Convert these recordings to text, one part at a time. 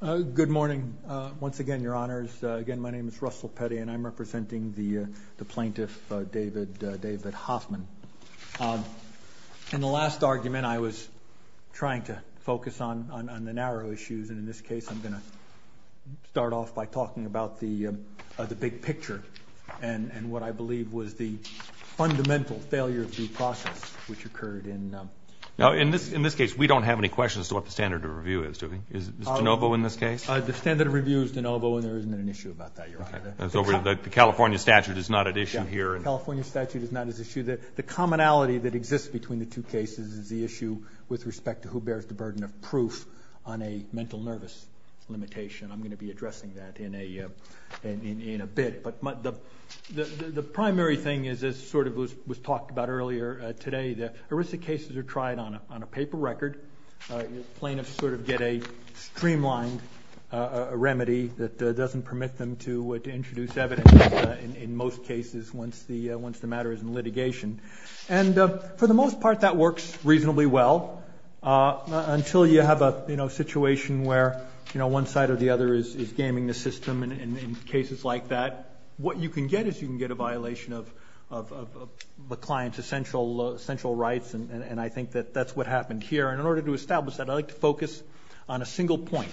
Good morning. Once again, Your Honors. Again, my name is Russell Petty, and I'm representing the Plaintiff, David Hoffmann. In the last argument, I was trying to focus on the narrow issues, and in this case, I'm going to start off by talking about the big picture and what I believe was the fundamental failure of due process which occurred in... Now, in this case, we don't have any questions as to what the standard of review is, do we? Is it de novo in this case? The standard of review is de novo, and there isn't an issue about that, Your Honor. So the California statute is not at issue here? The California statute is not at issue. The commonality that exists between the two cases is the issue with respect to who bears the burden of proof on a mental nervous limitation. I'm going to be addressing that in a bit. But the primary thing is, as sort of was talked about earlier today, the ERISA cases are tried on a paper record. Plaintiffs sort of get a streamlined remedy that doesn't permit them to introduce evidence in most cases once the matter is in litigation. And for the most part, that works reasonably well until you have a situation where one side or the other is gaming the system. In cases like that, what you can get is you can get a violation of the client's essential rights, and I think that that's what happened here. And in order to establish that, I'd like to focus on a single point.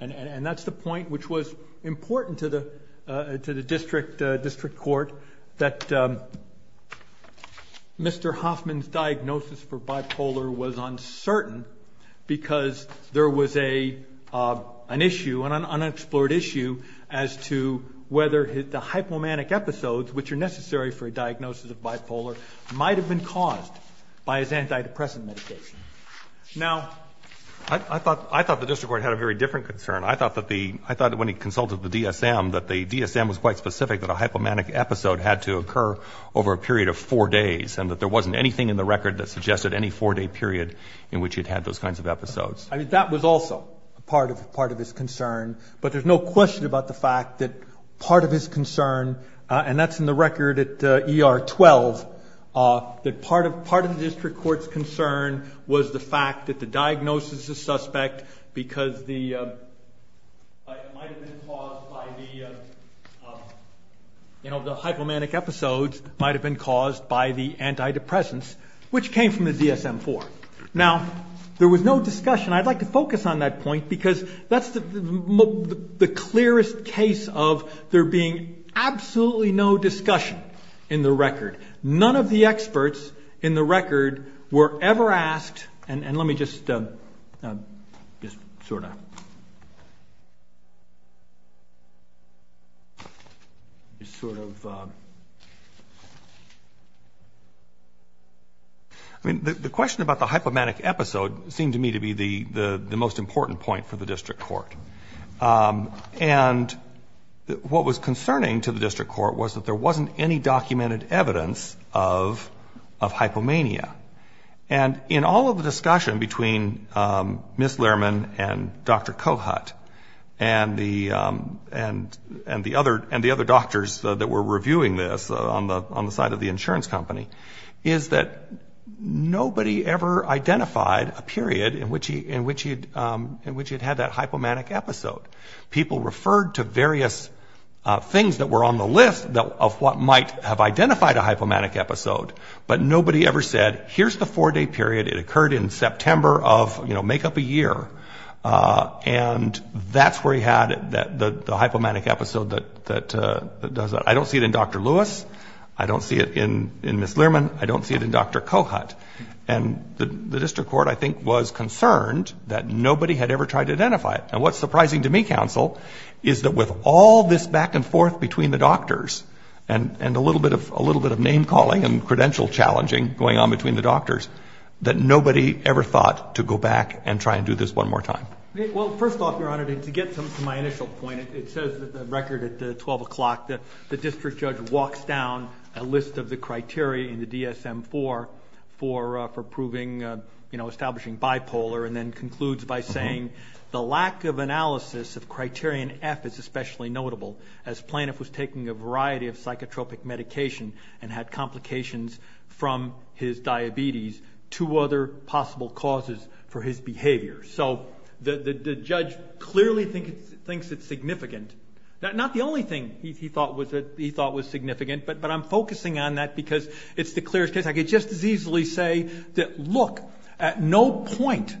And that's the point which was important to the district court, that Mr. Hoffman's diagnosis for bipolar was that the hypomanic episodes, which are necessary for a diagnosis of bipolar, might have been caused by his antidepressant medication. Now, I thought the district court had a very different concern. I thought that when he consulted the DSM that the DSM was quite specific that a hypomanic episode had to occur over a period of four days, and that there wasn't anything in the record that suggested any four-day period in which he'd had those kinds of episodes. I mean, that was also part of his concern. But there's no question about the fact that part of his concern, and that's in the record at ER 12, that part of the district court's concern was the fact that the diagnosis is suspect because the hypomanic episodes might have been caused by the antidepressants, which came from the DSM-IV. Now, there was no discussion. I'd like to focus on that point because that's the clearest case of there being absolutely no discussion in the record. None of the experts in the record were ever asked, and let me just sort of... The question about the hypomanic episode seemed to me to be the most important point for the court. And what was concerning to the district court was that there wasn't any documented evidence of hypomania. And in all of the discussion between Ms. Lehrman and Dr. Kohut, and the other doctors that were reviewing this on the side of the insurance company, is that nobody ever identified a period in which he'd had that hypomanic episode. People referred to various things that were on the list of what might have identified a hypomanic episode, but nobody ever said, here's the four-day period. It occurred in September of, you know, make up a year. And that's where he had the hypomanic episode that does that. I don't see it in Dr. Lewis. I don't see it in Ms. Lehrman. I don't see it in Dr. Kohut. And the district court, I think, was concerned that nobody had ever tried to identify it. And what's surprising to me, counsel, is that with all this back and forth between the doctors, and a little bit of name-calling and credential-challenging going on between the doctors, that nobody ever thought to go back and try and do this one more time. Well, first off, Your Honor, to get to my initial point, it says in the record at 12 o'clock that the district judge walks down a list of the criteria in the DSM-IV for proving, you know, establishing bipolar, and then concludes by saying, the lack of analysis of criterion F is especially notable, as Planoff was taking a variety of psychotropic medication and had complications from his diabetes to other possible causes for his behavior. So the judge clearly thinks it's significant. Not the only thing he thought was significant, but I'm focusing on that because it's the clearest case. I could just as easily say that, look, at no point,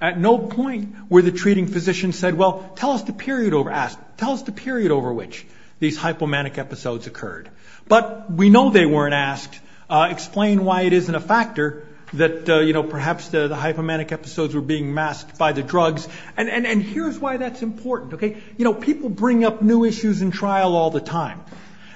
at no point were the treating physician said, well, tell us the period over which these hypomanic episodes occurred. But we know they weren't asked, explain why it isn't a factor that, you know, perhaps the hypomanic episodes were being masked by the drugs. And here's why that's important, okay? You know, people bring up new issues in trial all the time.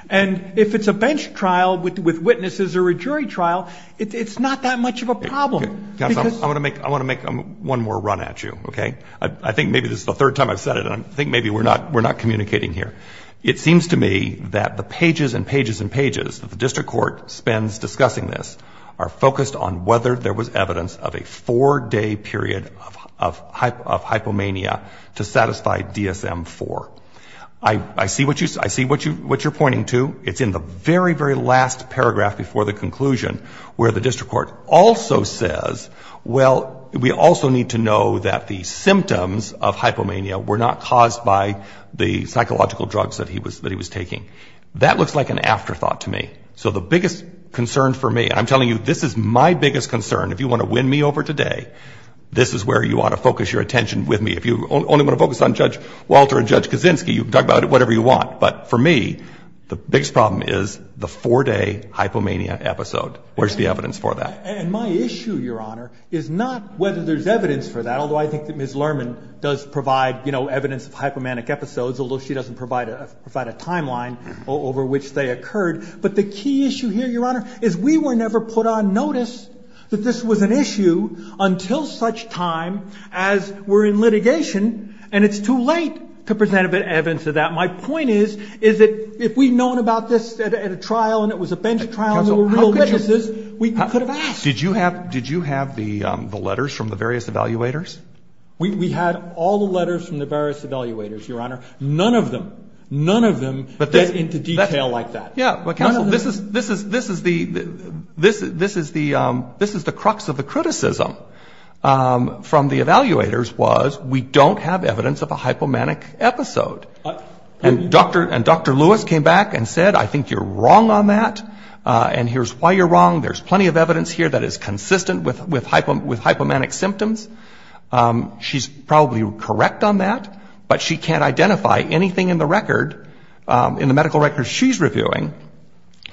And if it's a bench trial with witnesses or a jury trial, it's not that much of a problem. I want to make one more run at you, okay? I think maybe this is the third time I've said it, and I think maybe we're not communicating here. It seems to me that the pages and pages and pages that the district court spends discussing this are focused on whether there was evidence of a four-day period of hypomania to satisfy DSM-IV. I see what you say. I see what you are pointing to. It's in the very, very last paragraph before the conclusion where the district court also says, well, we also need to know that the symptoms of hypomania were not caused by the psychological drugs that he was taking. That looks like an afterthought to me. So the biggest concern for me, and I'm telling you, this is my biggest concern. If you want to win me over today, this is where you ought to focus your attention with me. If you only want to focus on Judge Walter and Judge Kaczynski, you can talk about whatever you want. But for me, the biggest problem is the four-day hypomania episode. Where's the evidence for that? And my issue, Your Honor, is not whether there's evidence for that, although I think that Ms. Lerman does provide, you know, evidence of hypomanic episodes, although she doesn't provide a timeline over which they occurred. But the key issue here, Your Honor, is we were never put on notice that this was an issue until such time as we're in litigation, and it's too late to present a bit of evidence of that. My point is, is that if we'd known about this at a trial, and it was a bench trial, and there were real witnesses, we could have asked. Did you have the letters from the various evaluators? We had all the letters from the various evaluators, Your Honor. None of them, none of them get into detail like that. Yeah, but counsel, this is the crux of the criticism from the evaluators was we don't have evidence of a hypomanic episode. And Dr. Lewis came back and said, I think you're wrong on that, and here's why you're wrong. There's plenty of evidence here that is consistent with hypomanic symptoms. She's probably correct on that, but she can't identify anything in the record, in the medical record she's reviewing,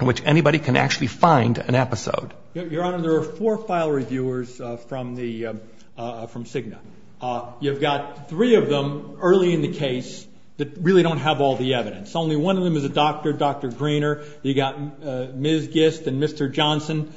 in which anybody can actually find an episode. Your Honor, there are four file reviewers from Cigna. You've got three of them early in the case that really don't have all the evidence. Only one of them is a doctor, Dr. Greener. You've got Ms. Gist and Mr. Johnson.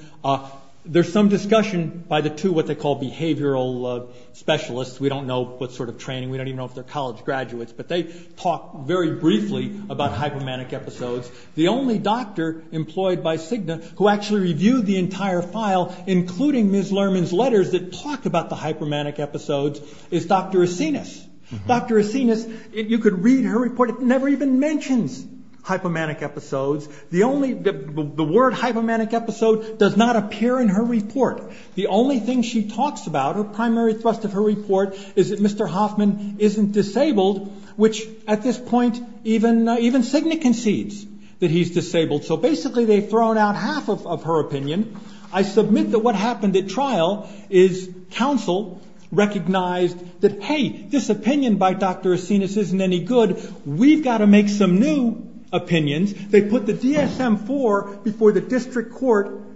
There's some discussion by the two what they call behavioral specialists. We don't know what sort of training, we don't even know if they're college graduates, but they talk very briefly about hypomanic episodes. The only doctor employed by Cigna who actually reviewed the entire file, including Ms. Lerman's letters that talk about the hypomanic episodes, is Dr. Acinas. Dr. Acinas, you could read her report, it never even mentions hypomanic episodes. The word hypomanic episode does not appear in her report. The only thing she talks about, her primary thrust of her report, is that Mr. Hoffman isn't disabled, which at this point even Cigna concedes that he's disabled. So basically they've thrown out half of her opinion. I submit that what happened at trial is counsel recognized that hey, this opinion by Dr. Acinas isn't any good, we've got to make some new opinions. They put the DSM-IV before the district court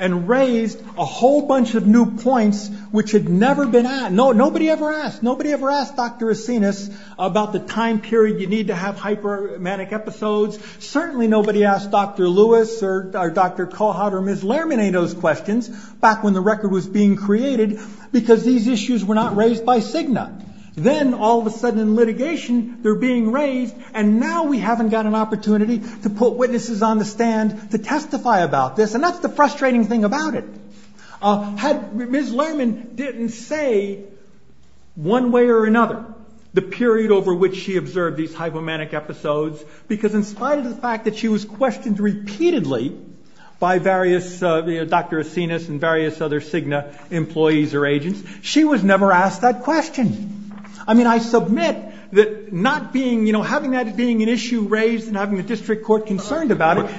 and raised a whole bunch of new points which had never been asked. Nobody ever asked. Nobody ever asked Dr. Acinas about the time period you need to have hypomanic episodes. Certainly nobody asked Dr. Lewis or Dr. Cohart or Ms. Lerman any of those questions back when the record was being created because these issues were not raised by Cigna. Then all of a sudden in litigation they're being raised and now we haven't got an opportunity to put witnesses on the stand to testify about this and that's the frustrating thing about it. Ms. Lerman didn't say one way or another the period over which she observed these hypomanic episodes because in spite of the fact that she was questioned repeatedly by various Dr. Acinas and various other Cigna employees or agents, she was never asked that question. I mean I submit that having that being an issue raised and having the district court concerned about it.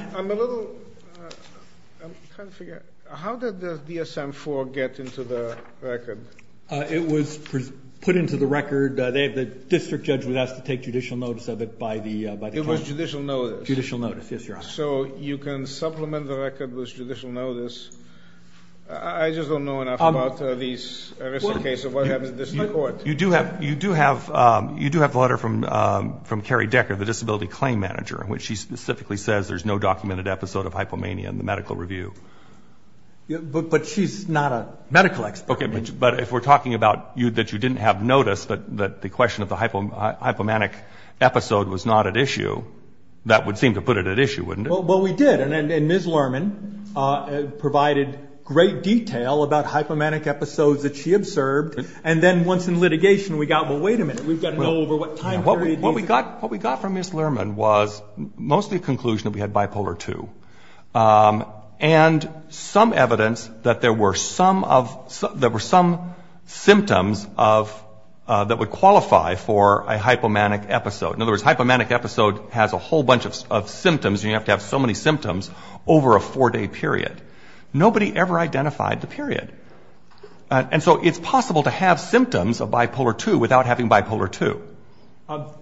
How did the DSM-IV get into the record? It was put into the record. The district judge was asked to take judicial notice of it by the court. It was judicial notice? Judicial notice, yes, Your Honor. So you can supplement the record with judicial notice. I just don't know enough about this case of what happens at the district court. You do have the letter from Carrie Decker, the disability claim manager, in which she specifically says there's no documented episode of hypomania in the medical review. But she's not a medical expert. But if we're talking about that you didn't have notice that the question of the hypomanic episode was not at issue, that would seem to put it at issue, wouldn't it? Well we did and Ms. Lerman provided great detail about hypomanic episodes that she observed and then once in litigation we got, well wait a minute, we've got to know over what time period. What we got from Ms. Lerman was mostly a conclusion that we had bipolar II and some evidence that there were some symptoms that would qualify for a hypomanic episode. In other words, hypomanic episode has a whole bunch of symptoms and you have to have so many symptoms over a four day period. Nobody ever identified the period. And so it's possible to have symptoms of bipolar II without having bipolar II.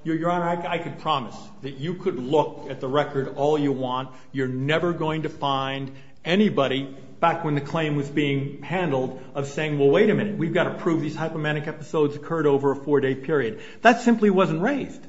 Your Honor, I could promise that you could look at the record all you want. You're never going to find anybody back when the claim was being handled of saying, well wait a minute, we've got to prove these hypomanic episodes occurred over a four day period. That simply wasn't raised.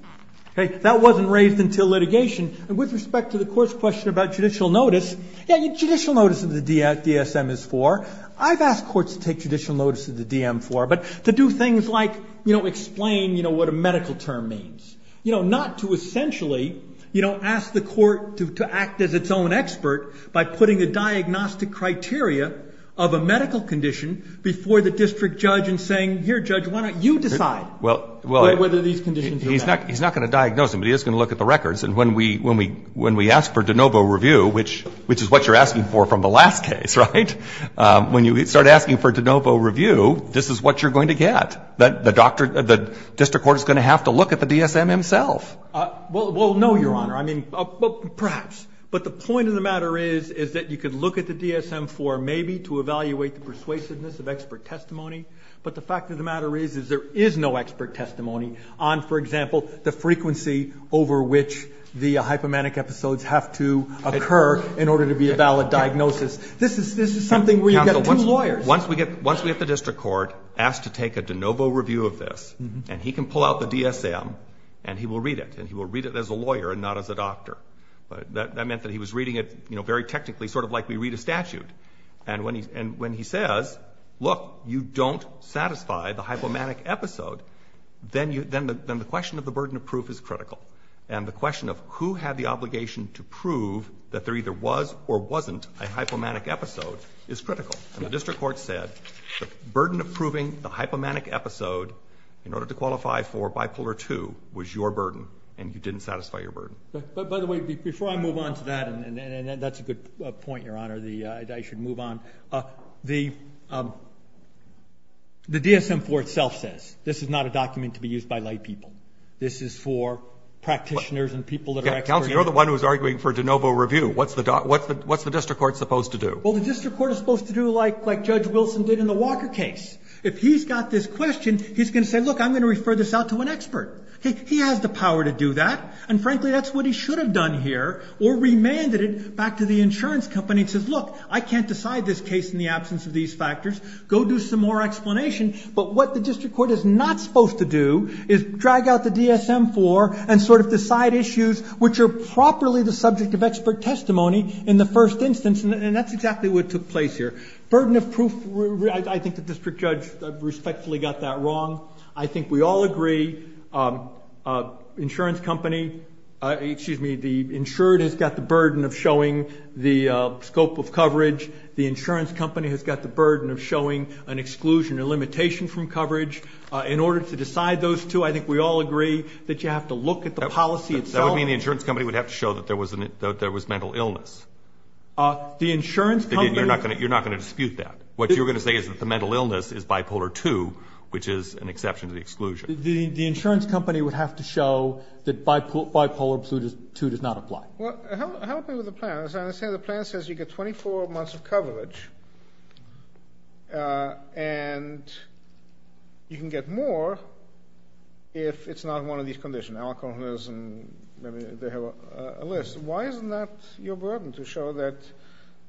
That wasn't raised until litigation. With respect to the court's question about judicial notice, judicial notice of the DSM is for. I've asked courts to take judicial notice of the DM for, but to do things like explain what a medical term means. Not to essentially ask the court to act as its own expert by putting a diagnostic criteria of a medical condition before the district judge and saying, here judge, why don't you decide whether these conditions are valid. He's not going to diagnose them, but he is going to look at the records. And when we ask for de novo review, which is what you're asking for from the last case, right? When you start asking for de novo review, this is what you're going to get. The district court is going to have to look at the DSM himself. Well, no, Your Honor. I mean, perhaps. But the point of the matter is that you could look at the DSM for maybe to evaluate the persuasiveness of expert testimony. But the fact of the matter is there is no expert testimony on, for example, the frequency over which the hypomanic episodes have to occur in order to be a valid diagnosis. This is something where you get two lawyers. Once we get the district court asked to take a de novo review of this, and he can pull out the DSM, and he will read it. And he will read it as a lawyer and not as a doctor. That meant that he was reading it, you know, very technically, sort of like we read a statute. And when he says, look, you don't satisfy the hypomanic episode, then the question of the burden of proof is critical. And the question of who had the obligation to prove that there either was or wasn't a hypomanic episode is critical. And the district court said the burden of proving the hypomanic episode in order to qualify for bipolar II was your burden, and you didn't satisfy your burden. But, by the way, before I move on to that, and that's a good point, Your Honor, that I should move on, the DSM for itself says this is not a document to be used by laypeople. This is for practitioners and people that are experts. Roberts. You're the one who's arguing for de novo review. What's the district court supposed to do? Well, the district court is supposed to do like Judge Wilson did in the Walker case. If he's got this question, he's going to say, look, I'm going to refer this out to an expert. He has the power to do that. And, frankly, that's what he should have done here or remanded it back to the insurance company and says, look, I can't decide this case in the absence of these factors. Go do some more explanation. But what the district court is not supposed to do is drag out the DSM for and sort of decide issues which are properly the subject of expert testimony in the first instance. And that's exactly what took place here. Burden of proof, I think the district judge respectfully got that wrong. I think we all agree insurance company, excuse me, the insured has got the burden of showing the scope of coverage. The insurance company has got the burden of showing an exclusion or limitation from coverage in order to decide those two. I think we all agree that you have to look at the policy itself. That would mean the insurance company would have to show that there was mental illness. The insurance company. You're not going to dispute that. What you're going to say is that the mental illness is bipolar two, which is an exception to the exclusion. The insurance company would have to show that bipolar two does not apply. Well, help me with the plan. As I understand the plan says you get 24 months of coverage, uh, and you can get more if it's not one of these conditions, alcoholism, maybe they have a list. Why isn't that your burden to show that,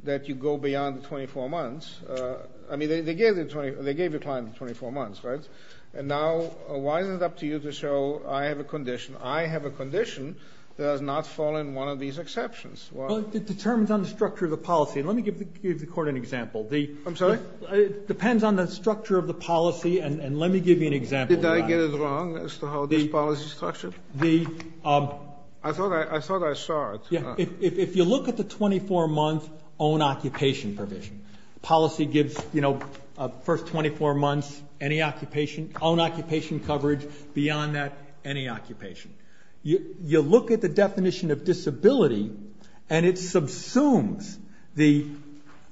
that you go beyond the 24 months? Uh, I mean, they, they gave the 20, they gave the client 24 months, right? And now why is it up to you to show I have a condition. I have a condition that does not fall in one of these exceptions. Well, it determines on the structure of the policy. And let me give the court an example. The, I'm sorry, it depends on the structure of the policy. And let me give you an example. Did I get it wrong as to how this policy is structured? The, um, I thought I, I thought I saw it. Yeah. If you look at the 24 month own occupation provision policy gives, you know, uh, first 24 months, any occupation, own occupation coverage beyond that, any and it subsumes the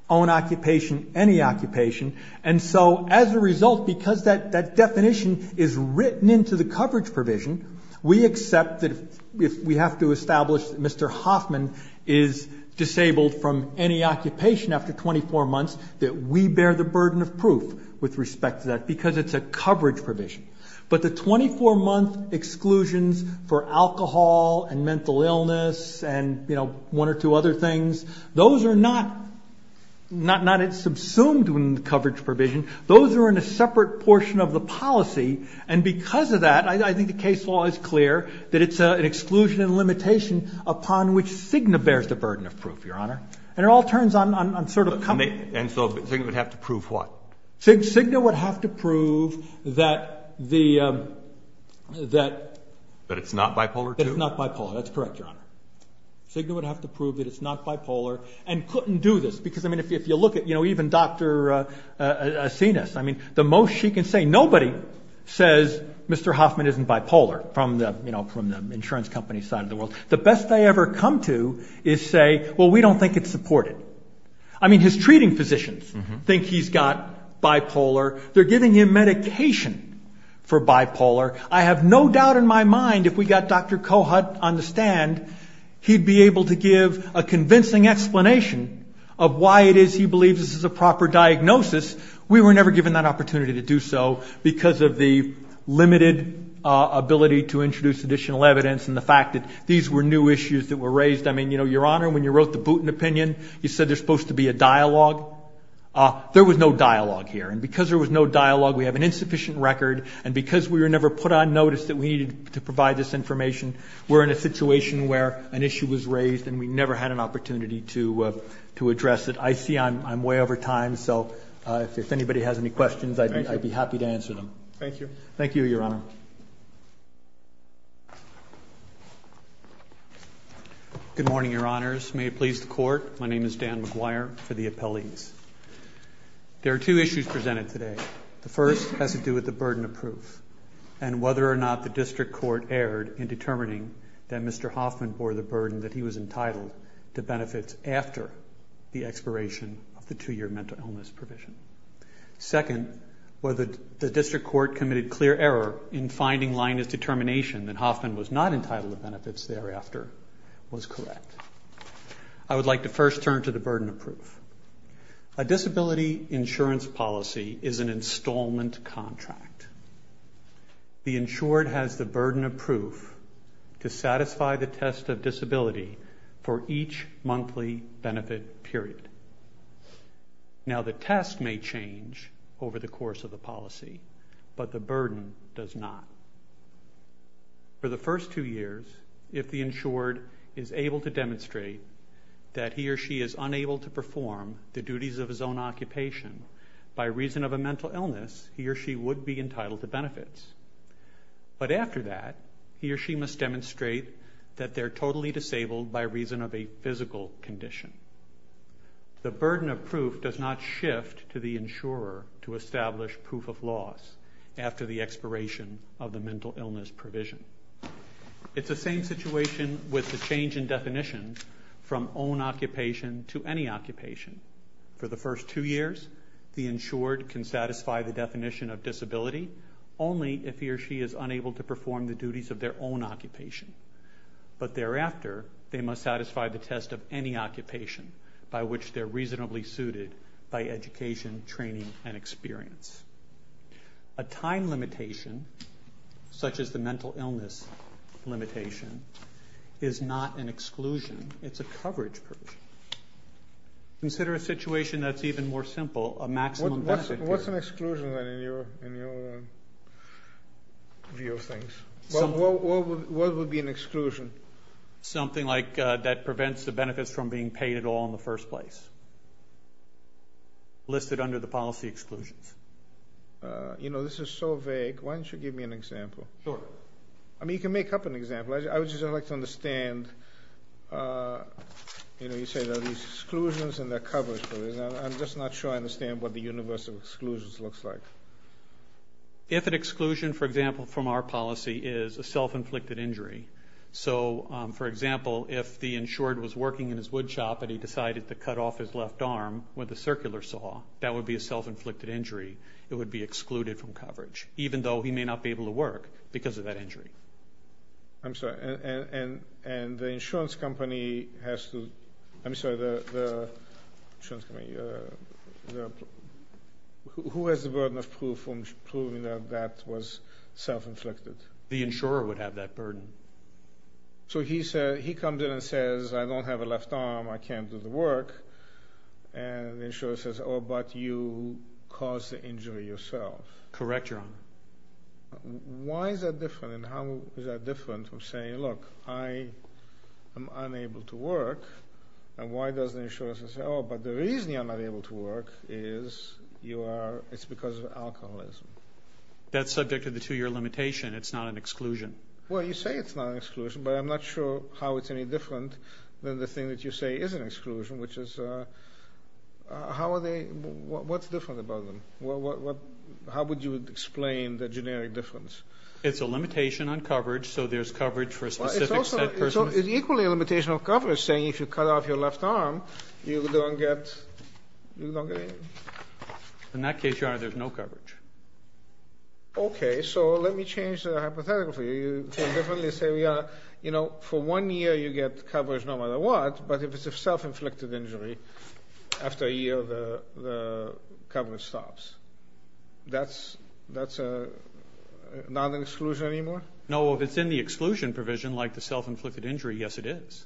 own occupation, any occupation. And so as a result, because that, that definition is written into the coverage provision, we accept that if we have to establish that Mr. Hoffman is disabled from any occupation after 24 months, that we bear the burden of proof with respect to that, because it's a coverage provision, but the 24 month exclusions for alcohol and mental illness and, you know, one or two other things, those are not, not, not, it's subsumed when the coverage provision, those are in a separate portion of the policy. And because of that, I think the case law is clear that it's an exclusion and limitation upon which Cigna bears the burden of proof, your honor. And it all turns on, on, on sort of. And so Cigna would have to prove what? Cigna would have to prove that the, um, that, that it's not bipolar. It's not bipolar. That's correct. Your honor. Cigna would have to prove that it's not bipolar and couldn't do this because I mean, if you, if you look at, you know, even Dr, uh, uh, Sinus, I mean, the most she can say, nobody says Mr. Hoffman isn't bipolar from the, you know, from the insurance company side of the world, the best I ever come to is say, well, we don't think it's supported. I mean, his treating physicians think he's got bipolar. They're giving him medication for bipolar. I have no doubt in my mind. If we got Dr. Kohut on the stand, he'd be able to give a convincing explanation of why it is. He believes this is a proper diagnosis. We were never given that opportunity to do so because of the limited, uh, ability to introduce additional evidence. And the fact that these were new issues that were raised, I mean, you know, your opinion, you said there's supposed to be a dialogue, uh, there was no dialogue here. And because there was no dialogue, we have an insufficient record. And because we were never put on notice that we needed to provide this information, we're in a situation where an issue was raised and we never had an opportunity to, uh, to address it. I see I'm, I'm way over time. So, uh, if anybody has any questions, I'd be happy to answer them. Thank you. Thank you, Your Honor. Good morning, Your Honors. May it please the court. My name is Dan McGuire for the appellees. There are two issues presented today. The first has to do with the burden of proof and whether or not the district court erred in determining that Mr. Hoffman bore the burden that he was entitled to benefits after the expiration of the two-year mental illness provision. Second, whether the district court committed clear error in finding Linus' determination that Hoffman was not entitled to benefits thereafter was correct. I would like to first turn to the burden of proof. A disability insurance policy is an installment contract. The insured has the burden of proof to satisfy the test of disability for each monthly benefit period. Now the test may change over the course of the policy, but the burden does not. For the first two years, if the insured is able to demonstrate that he or she is unable to perform the duties of his own occupation by reason of a mental illness, he or she would be entitled to benefits. But after that, he or she must demonstrate that they're totally disabled by reason of a physical condition. The burden of proof does not shift to the insurer to establish proof of loss after the expiration of the mental illness provision. It's the same situation with the change in definition from own occupation to any occupation. For the first two years, the insured can satisfy the definition of disability only if he or she is unable to perform the duties of their own occupation. But thereafter, they must satisfy the test of any occupation by which they're reasonably suited by education, training, and experience. A time limitation, such as the mental illness limitation, is not an exclusion. It's a coverage provision. Consider a situation that's even more simple, a maximum benefit period. What's an exclusion then in your view of things? What would be an exclusion? Something like that prevents the benefits from being paid at all in the first place. Listed under the policy exclusions. You know, this is so vague. Why don't you give me an example? Sure. I mean, you can make up an example. I would just like to understand, you know, you say there are these exclusions and there are coverage provisions. I'm just not sure I understand what the universe of exclusions looks like. If an exclusion, for example, from our policy is a self-inflicted injury. So, for example, if the insured was working in his wood shop and he decided to cut off his left arm with a circular saw, that would be a self-inflicted injury. It would be excluded from coverage, even though he may not be able to work because of that injury. I'm sorry, and the insurance company has to, I'm sorry, the insurance company, who has the burden of proof from proving that that was self-inflicted? The insurer would have that burden. So, he comes in and says, I don't have a left arm, I can't do the work. And the insurer says, oh, but you caused the injury yourself. Correct, Your Honor. Why is that different? And how is that different from saying, look, I am unable to work. And why does the insurer say, oh, but the reason you're not able to work is it's because of alcoholism. That's subject to the two-year limitation. It's not an exclusion. Well, you say it's not an exclusion, but I'm not sure how it's any different than the thing that you say is an exclusion, which is, how are they, what's different about them? What, how would you explain the generic difference? It's a limitation on coverage, so there's coverage for a specific set person. It's equally a limitation on coverage, saying if you cut off your left arm, you don't get, you don't get anything. In that case, Your Honor, there's no coverage. Okay, so let me change the hypothetical for you. You can definitely say, Your Honor, you know, for one year, you get coverage no matter what, but if it's a self-inflicted injury, after a year, the coverage stops. That's, that's not an exclusion anymore? No, if it's in the exclusion provision, like the self-inflicted injury, yes, it is.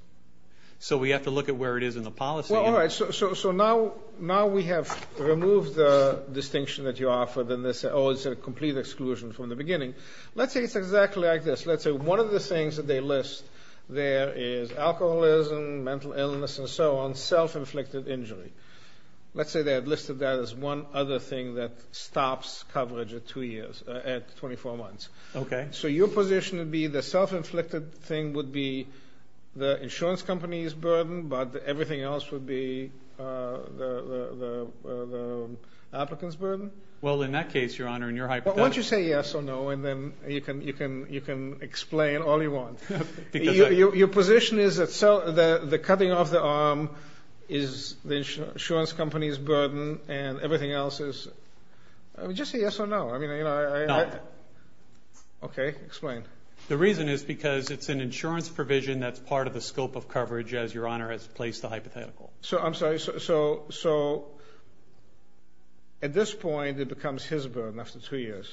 So we have to look at where it is in the policy. Well, all right, so now, now we have removed the distinction that you offer than this, oh, it's a complete exclusion from the beginning. Let's say it's exactly like this. Let's say one of the things that they list there is alcoholism, mental illness, and so on, self-inflicted injury. Let's say they had listed that as one other thing that stops coverage at two years, at 24 months. Okay. So your position would be the self-inflicted thing would be the insurance company's burden, but everything else would be the, the, the, the applicant's burden? Well, in that case, Your Honor, in your hypothetical. Why don't you say yes or no, and then you can, you can, you can explain all you want. Because your, your position is that the, the cutting off the arm is the insurance company's burden and everything else is, I mean, just say yes or no. I mean, you know, I, I, okay, explain. The reason is because it's an insurance provision. That's part of the scope of coverage as Your Honor has placed the hypothetical. So I'm sorry. So, so at this point it becomes his burden after two years.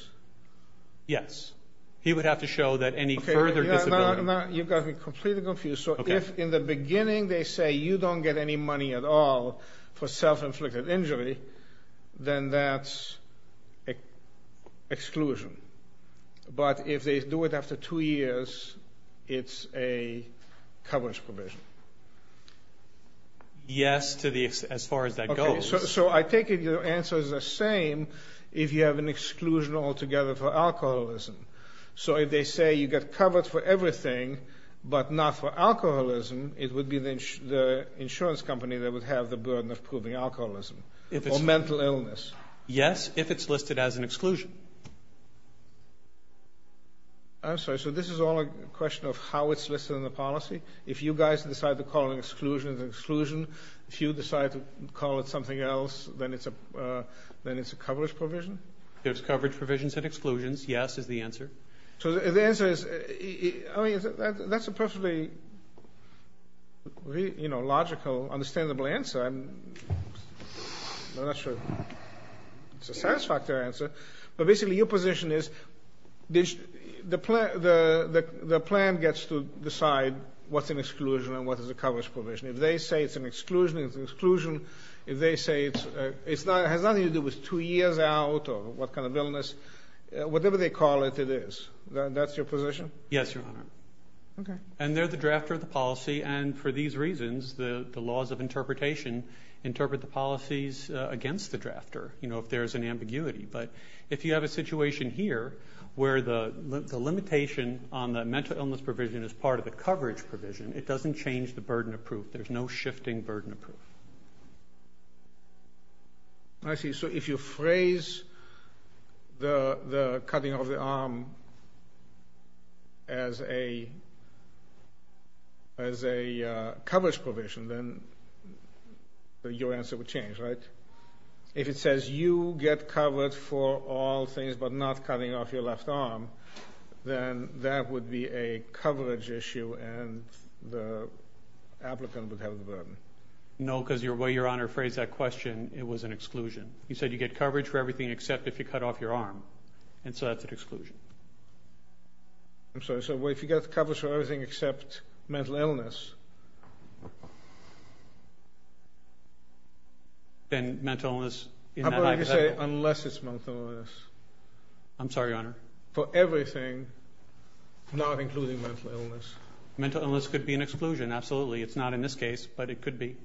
Yes. He would have to show that any further disability. Now you've got me completely confused. So if in the beginning they say you don't get any money at all for self-inflicted injury, then that's exclusion. But if they do it after two years, it's a coverage provision. Yes. To the extent, as far as that goes, so I take it, your answer is the same if you have an exclusion altogether for alcoholism. So if they say you get covered for everything, but not for alcoholism, it would be the insurance company that would have the burden of proving alcoholism or mental illness. Yes. If it's listed as an exclusion. I'm sorry. So this is all a question of how it's listed in the policy. If you guys decide to call an exclusion an exclusion, if you decide to call it something else, then it's a, then it's a coverage provision. There's coverage provisions and exclusions. Yes. Is the answer. So the answer is, I mean, that's a perfectly, you know, logical, understandable answer. I'm not sure it's a satisfactory answer, but basically your position is, the plan gets to decide what's an exclusion and what is a coverage provision. If they say it's an exclusion, it's an exclusion. If they say it's, it's not, it has nothing to do with two years out or what kind of illness, whatever they call it, it is. That's your position? Yes, Your Honor. Okay. And they're the drafter of the policy. And for these reasons, the laws of interpretation interpret the policies against the drafter, you know, if there's an ambiguity, but if you have a situation here where the limitation on the mental illness provision is part of the coverage provision, it doesn't change the burden of proof. There's no shifting burden of proof. I see. So if you phrase the cutting of the arm as a, as a coverage provision, then your answer would change, right? If it says you get covered for all things, but not cutting off your left arm, then that would be a coverage issue and the applicant would have the burden. No, because the way Your Honor phrased that question, it was an exclusion. You said you get coverage for everything except if you cut off your arm. And so that's an exclusion. I'm sorry. So if you get coverage for everything except mental illness. Then mental illness in that hypothetical. I'm going to say unless it's mental illness. I'm sorry, Your Honor. For everything, not including mental illness. Mental illness could be an exclusion. Absolutely. It's not in this case, but it could be.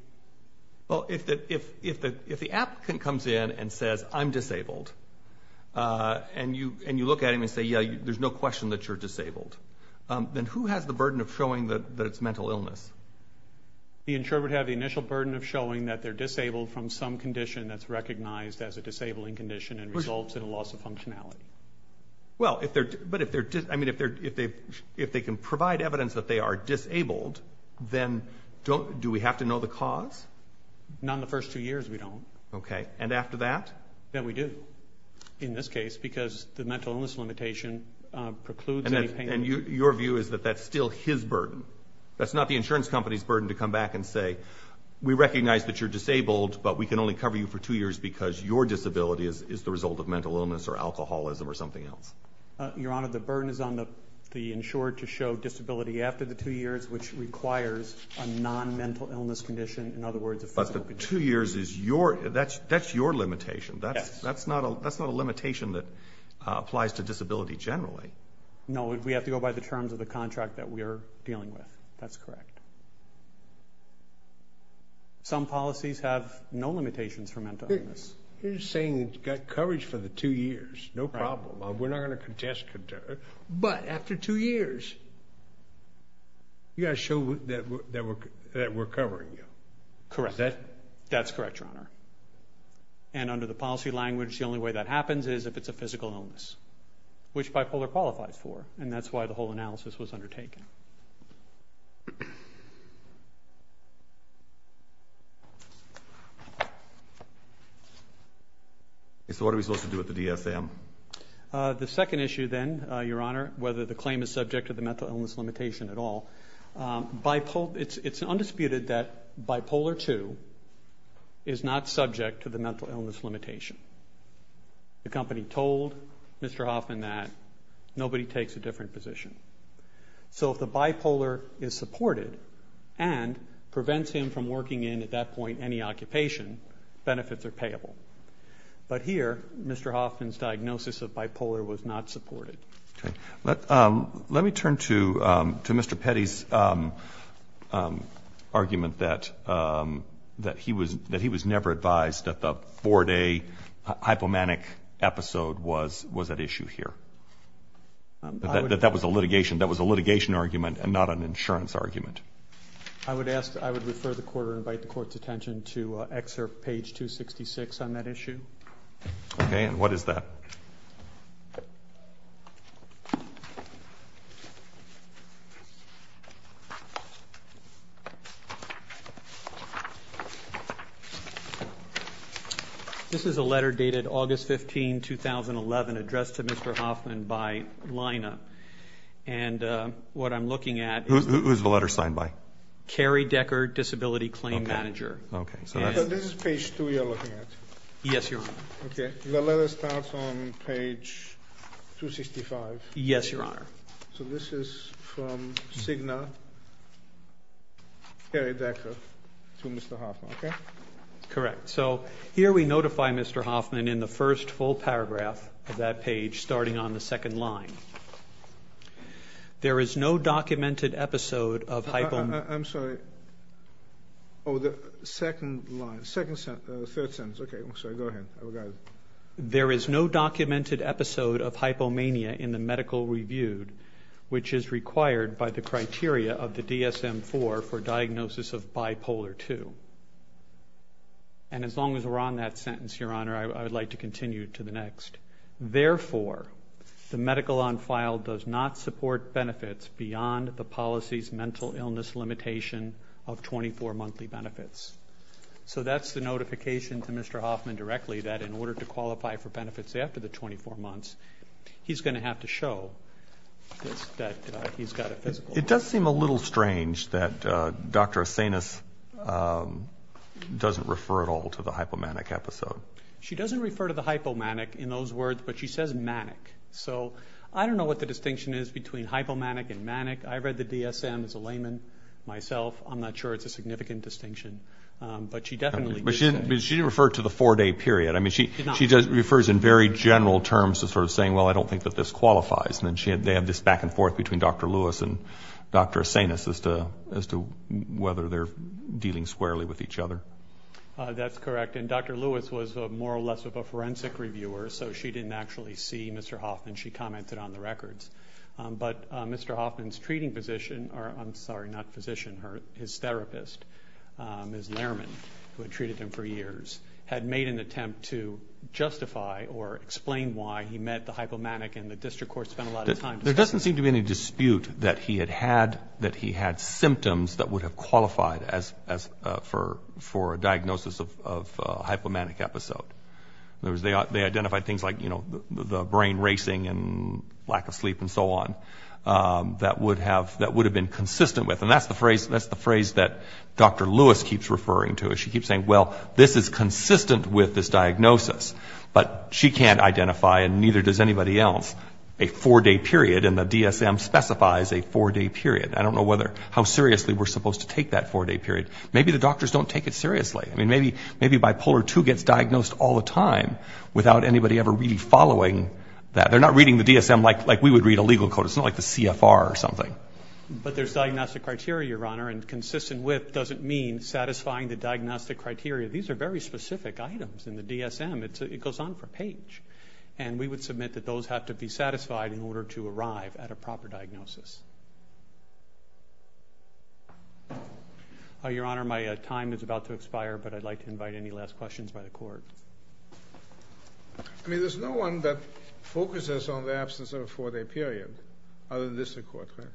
Well, if the, if, if the, if the applicant comes in and says, I'm disabled, and you, and you look at him and say, yeah, there's no question that you're disabled, then who has the burden of showing that, that it's mental illness? The insured would have the initial burden of showing that they're disabled from some condition that's recognized as a disabling condition and results in a loss of functionality. Well, if they're, but if they're just, I mean, if they're, if they, if they can provide evidence that they are disabled, then don't, do we have to know the cause? Not in the first two years, we don't. Okay. And after that? Then we do. In this case, because the mental illness limitation precludes any pain. And your view is that that's still his burden. That's not the insurance company's burden to come back and say, we recognize that you're disabled, but we can only cover you for two years because your disability is, is the result of mental illness or alcoholism or something else. Your Honor, the burden is on the, the insured to show disability after the two years, which requires a non-mental illness condition. In other words, a physical condition. Two years is your, that's, that's your limitation. That's, that's not a, that's not a limitation that applies to disability generally. No, we have to go by the terms of the contract that we're dealing with. That's correct. Some policies have no limitations for mental illness. You're just saying you've got coverage for the two years. No problem. We're not going to contest, but after two years, you got to show that, that we're, that we're covering you. Correct. That's correct, Your Honor. And under the policy language, the only way that happens is if it's a physical illness, which bipolar qualifies for, and that's why the whole analysis was undertaken. And so what are we supposed to do with the DSM? The second issue then, Your Honor, whether the claim is subject to the mental illness limitation at all, it's, it's undisputed that bipolar two is not subject to the mental illness limitation. The company told Mr. Hoffman that nobody takes a different position. So if the bipolar is supported and prevents him from working in at that point, any occupation, benefits are payable. But here, Mr. Hoffman's diagnosis of bipolar was not supported. Okay. Let, let me turn to, to Mr. Petty's argument that, that he was, that he was never advised that the four day hypomanic episode was, was at issue here, that that was a litigation, that was a litigation argument and not an insurance argument. I would ask, I would refer the court or invite the court's attention to excerpt page 266 on that issue. Okay. And what is that? This is a letter dated August 15, 2011, addressed to Mr. Hoffman by Lina. And what I'm looking at is the letter signed by? Cary Decker, disability claim manager. Okay. So this is page two you're looking at? Yes, Your Honor. Okay. The letter starts on page 265. Yes, Your Honor. So this is from Cigna, Cary Decker to Mr. Hoffman, okay? Correct. So here we notify Mr. Hoffman in the first full paragraph of that page, starting on the second line. There is no documented episode of hypomania. I'm sorry. Oh, the second line, second sentence, third sentence. Okay. I'm sorry. Go ahead. I will go ahead. There is no documented episode of hypomania in the medical reviewed, which is required by the criteria of the DSM-IV for diagnosis of bipolar two. And as long as we're on that sentence, Your Honor, I would like to continue to the next. Therefore, the medical on file does not support benefits beyond the policy's mental illness limitation of 24 monthly benefits. So that's the notification to Mr. Hoffman directly that in order to qualify for benefits after the 24 months, he's going to have to show that he's got a physical. It does seem a little strange that Dr. Asanis doesn't refer at all to the hypomanic episode. She doesn't refer to the hypomanic in those words, but she says manic. So I don't know what the distinction is between hypomanic and manic. I read the DSM as a layman myself. I'm not sure it's a significant distinction, but she definitely... But she didn't refer to the four day period. I mean, she just refers in very general terms to sort of saying, well, I don't think that this qualifies. And then they have this back and forth between Dr. Lewis and Dr. Asanis as to whether they're dealing squarely with each other. That's correct. And Dr. Lewis was more or less of a forensic reviewer, so she didn't actually see Mr. Hoffman. She commented on the records. But Mr. Hoffman's treating physician, or I'm sorry, not physician, his therapist, Ms. Lehrman, who had treated him for years, had made an attempt to justify or explain why he met the hypomanic and the district court spent a lot of time... There doesn't seem to be any dispute that he had symptoms that would have qualified as for a diagnosis of a hypomanic episode. In other words, they identified things like, you know, the brain racing and lack of sleep and so on that would have been consistent with. And that's the phrase that Dr. Lewis keeps referring to. She keeps saying, well, this is consistent with this diagnosis, but she can't justify, and neither does anybody else, a four-day period. And the DSM specifies a four-day period. I don't know whether, how seriously we're supposed to take that four-day period. Maybe the doctors don't take it seriously. I mean, maybe, maybe bipolar two gets diagnosed all the time without anybody ever really following that. They're not reading the DSM like, like we would read a legal code. It's not like the CFR or something. But there's diagnostic criteria, Your Honor, and consistent with doesn't mean satisfying the diagnostic criteria. These are very specific items in the DSM. It's, it goes on for a page. And we would submit that those have to be satisfied in order to arrive at a proper diagnosis. Your Honor, my time is about to expire, but I'd like to invite any last questions by the court. I mean, there's no one that focuses on the absence of a four-day period, other than this court, right?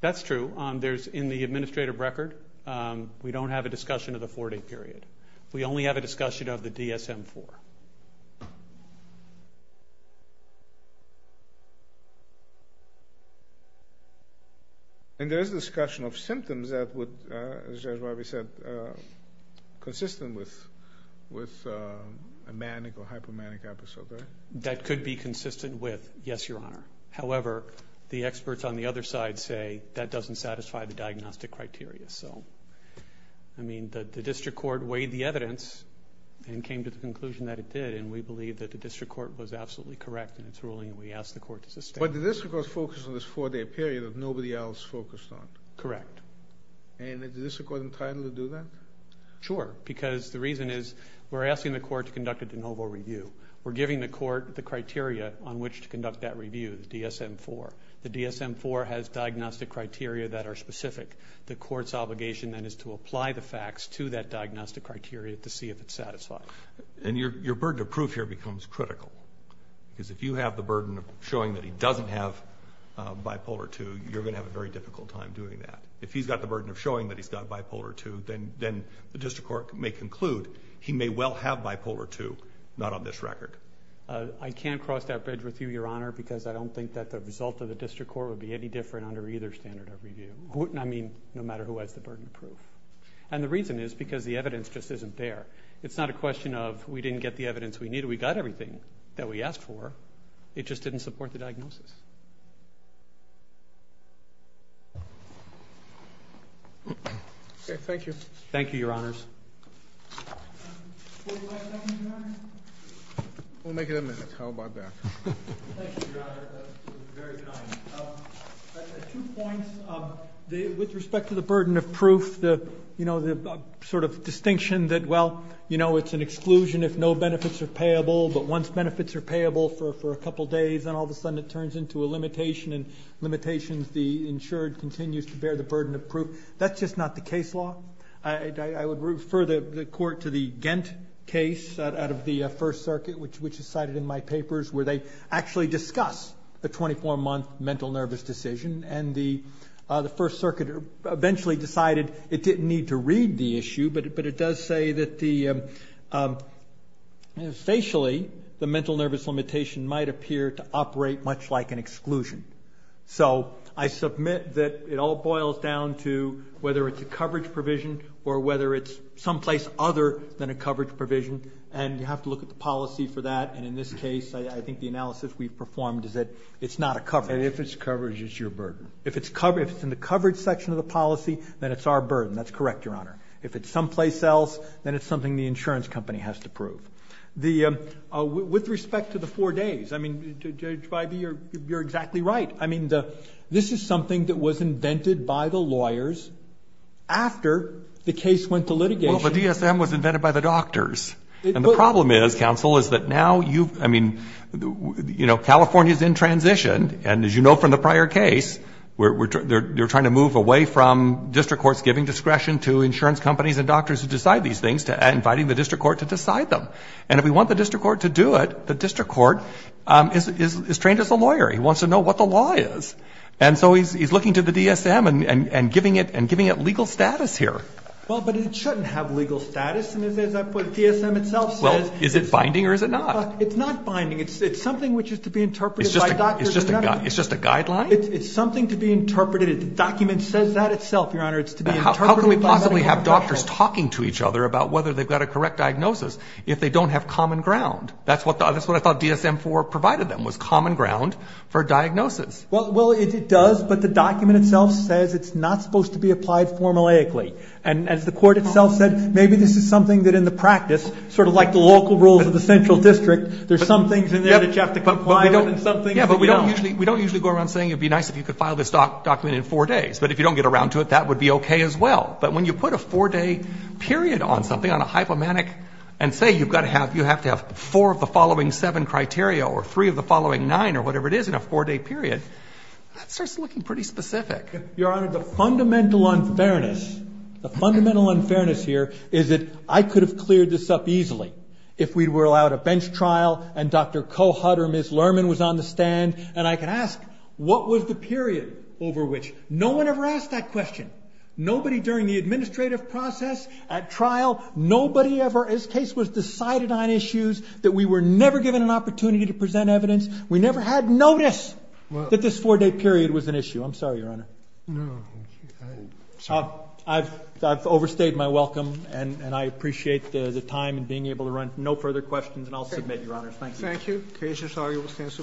That's true. There's in the administrative record, we don't have a discussion of the four-day period. We only have a discussion of the DSM-IV. And there's discussion of symptoms that would, as Judge Barbee said, consistent with, with a manic or hypomanic episode, right? That could be consistent with, yes, Your Honor. However, the experts on the other side say that doesn't satisfy the diagnostic criteria. So, I mean, the district court weighed the evidence and came to the conclusion that it did. And we believe that the district court was absolutely correct in its ruling. And we asked the court to sustain. But the district court focused on this four-day period that nobody else focused on. Correct. And the district court entitled to do that? Sure. Because the reason is we're asking the court to conduct a de novo review. We're giving the court the criteria on which to conduct that review, the DSM-IV. The DSM-IV has diagnostic criteria that are specific. The court's obligation then is to apply the facts to that diagnostic criteria to see if it's satisfied. And your, your burden of proof here becomes critical because if you have the burden of showing that he doesn't have a bipolar II, you're going to have a very difficult time doing that. If he's got the burden of showing that he's got bipolar II, then, then the district court may conclude he may well have bipolar II, not on this record. I can't cross that bridge with you, Your Honor, because I don't think that the result of the district court would be any different under either standard of review. Wouldn't, I mean, no matter who has the burden of proof. And the reason is because the evidence just isn't there. It's not a question of, we didn't get the evidence we needed. We got everything that we asked for. It just didn't support the diagnosis. Okay. Thank you. Thank you, Your Honors. We'll make it a minute. How about that? Thank you, Your Honor. That was very kind. Two points, with respect to the burden of proof, the, you know, the sort of distinction that, well, you know, it's an exclusion if no benefits are payable, but once benefits are payable for a couple of days, then all of a sudden it turns into a limitation and limitations the insured continues to bear the burden of proof. That's just not the case law. I would refer the court to the Ghent case out of the first circuit, which is cited in my papers, where they actually discuss the 24 month mental nervous decision. And the first circuit eventually decided it didn't need to read the issue, but it does say that the facially, the mental nervous limitation might appear to operate much like an exclusion. So I submit that it all boils down to whether it's a coverage provision or whether it's someplace other than a coverage provision, and you have to look at the policy for that. And in this case, I think the analysis we've performed is that it's not a coverage. And if it's coverage, it's your burden. If it's covered, if it's in the coverage section of the policy, then it's our burden, that's correct, Your Honor. If it's someplace else, then it's something the insurance company has to prove. The, with respect to the four days, I mean, Judge Feige, you're exactly right. I mean, the, this is something that was invented by the lawyers after the case went to litigation. Well, the DSM was invented by the doctors. And the problem is, counsel, is that now you've, I mean, you know, California's in transition, and as you know, from the prior case, we're, we're, they're, they're trying to move away from district courts giving discretion to insurance companies and doctors who decide these things to inviting the district court to decide them. And if we want the district court to do it, the district court is, is, is trained as a lawyer. He wants to know what the law is. And so he's, he's looking to the DSM and, and, and giving it and giving it legal status here. Well, but it shouldn't have legal status. And as I put it, DSM itself says. Is it binding or is it not? It's not binding. It's, it's something which is to be interpreted. It's just a guideline. It's something to be interpreted. It's a document says that itself, your honor. It's to be, how can we possibly have doctors talking to each other about whether they've got a correct diagnosis if they don't have common ground? That's what the, that's what I thought DSM four provided them was common ground for diagnosis. Well, it does, but the document itself says it's not supposed to be applied formulaically and as the court itself said, maybe this is something that in the practice, sort of like the local rules of the central district, there's some things in there that you have to comply with and some things that you don't. We don't usually go around saying, it'd be nice if you could file this document in four days, but if you don't get around to it, that would be okay as well. But when you put a four day period on something on a hypomanic and say, you've got to have, you have to have four of the following seven criteria or three of the following nine or whatever it is in a four day period, that starts looking pretty specific. Your Honor, the fundamental unfairness, the fundamental unfairness here is that I could have cleared this up easily if we were allowed a bench trial and Dr. Kohut or Ms. Lerman was on the stand and I can ask, what was the period over which no one ever asked that question? Nobody during the administrative process at trial, nobody ever, as case was decided on issues that we were never given an opportunity to present evidence. We never had notice that this four day period was an issue. I'm sorry, Your Honor. No, I've, I've overstayed my welcome and I appreciate the time and being able to run. No further questions and I'll submit, Your Honor. Thank you. Okay. So sorry. We'll stand.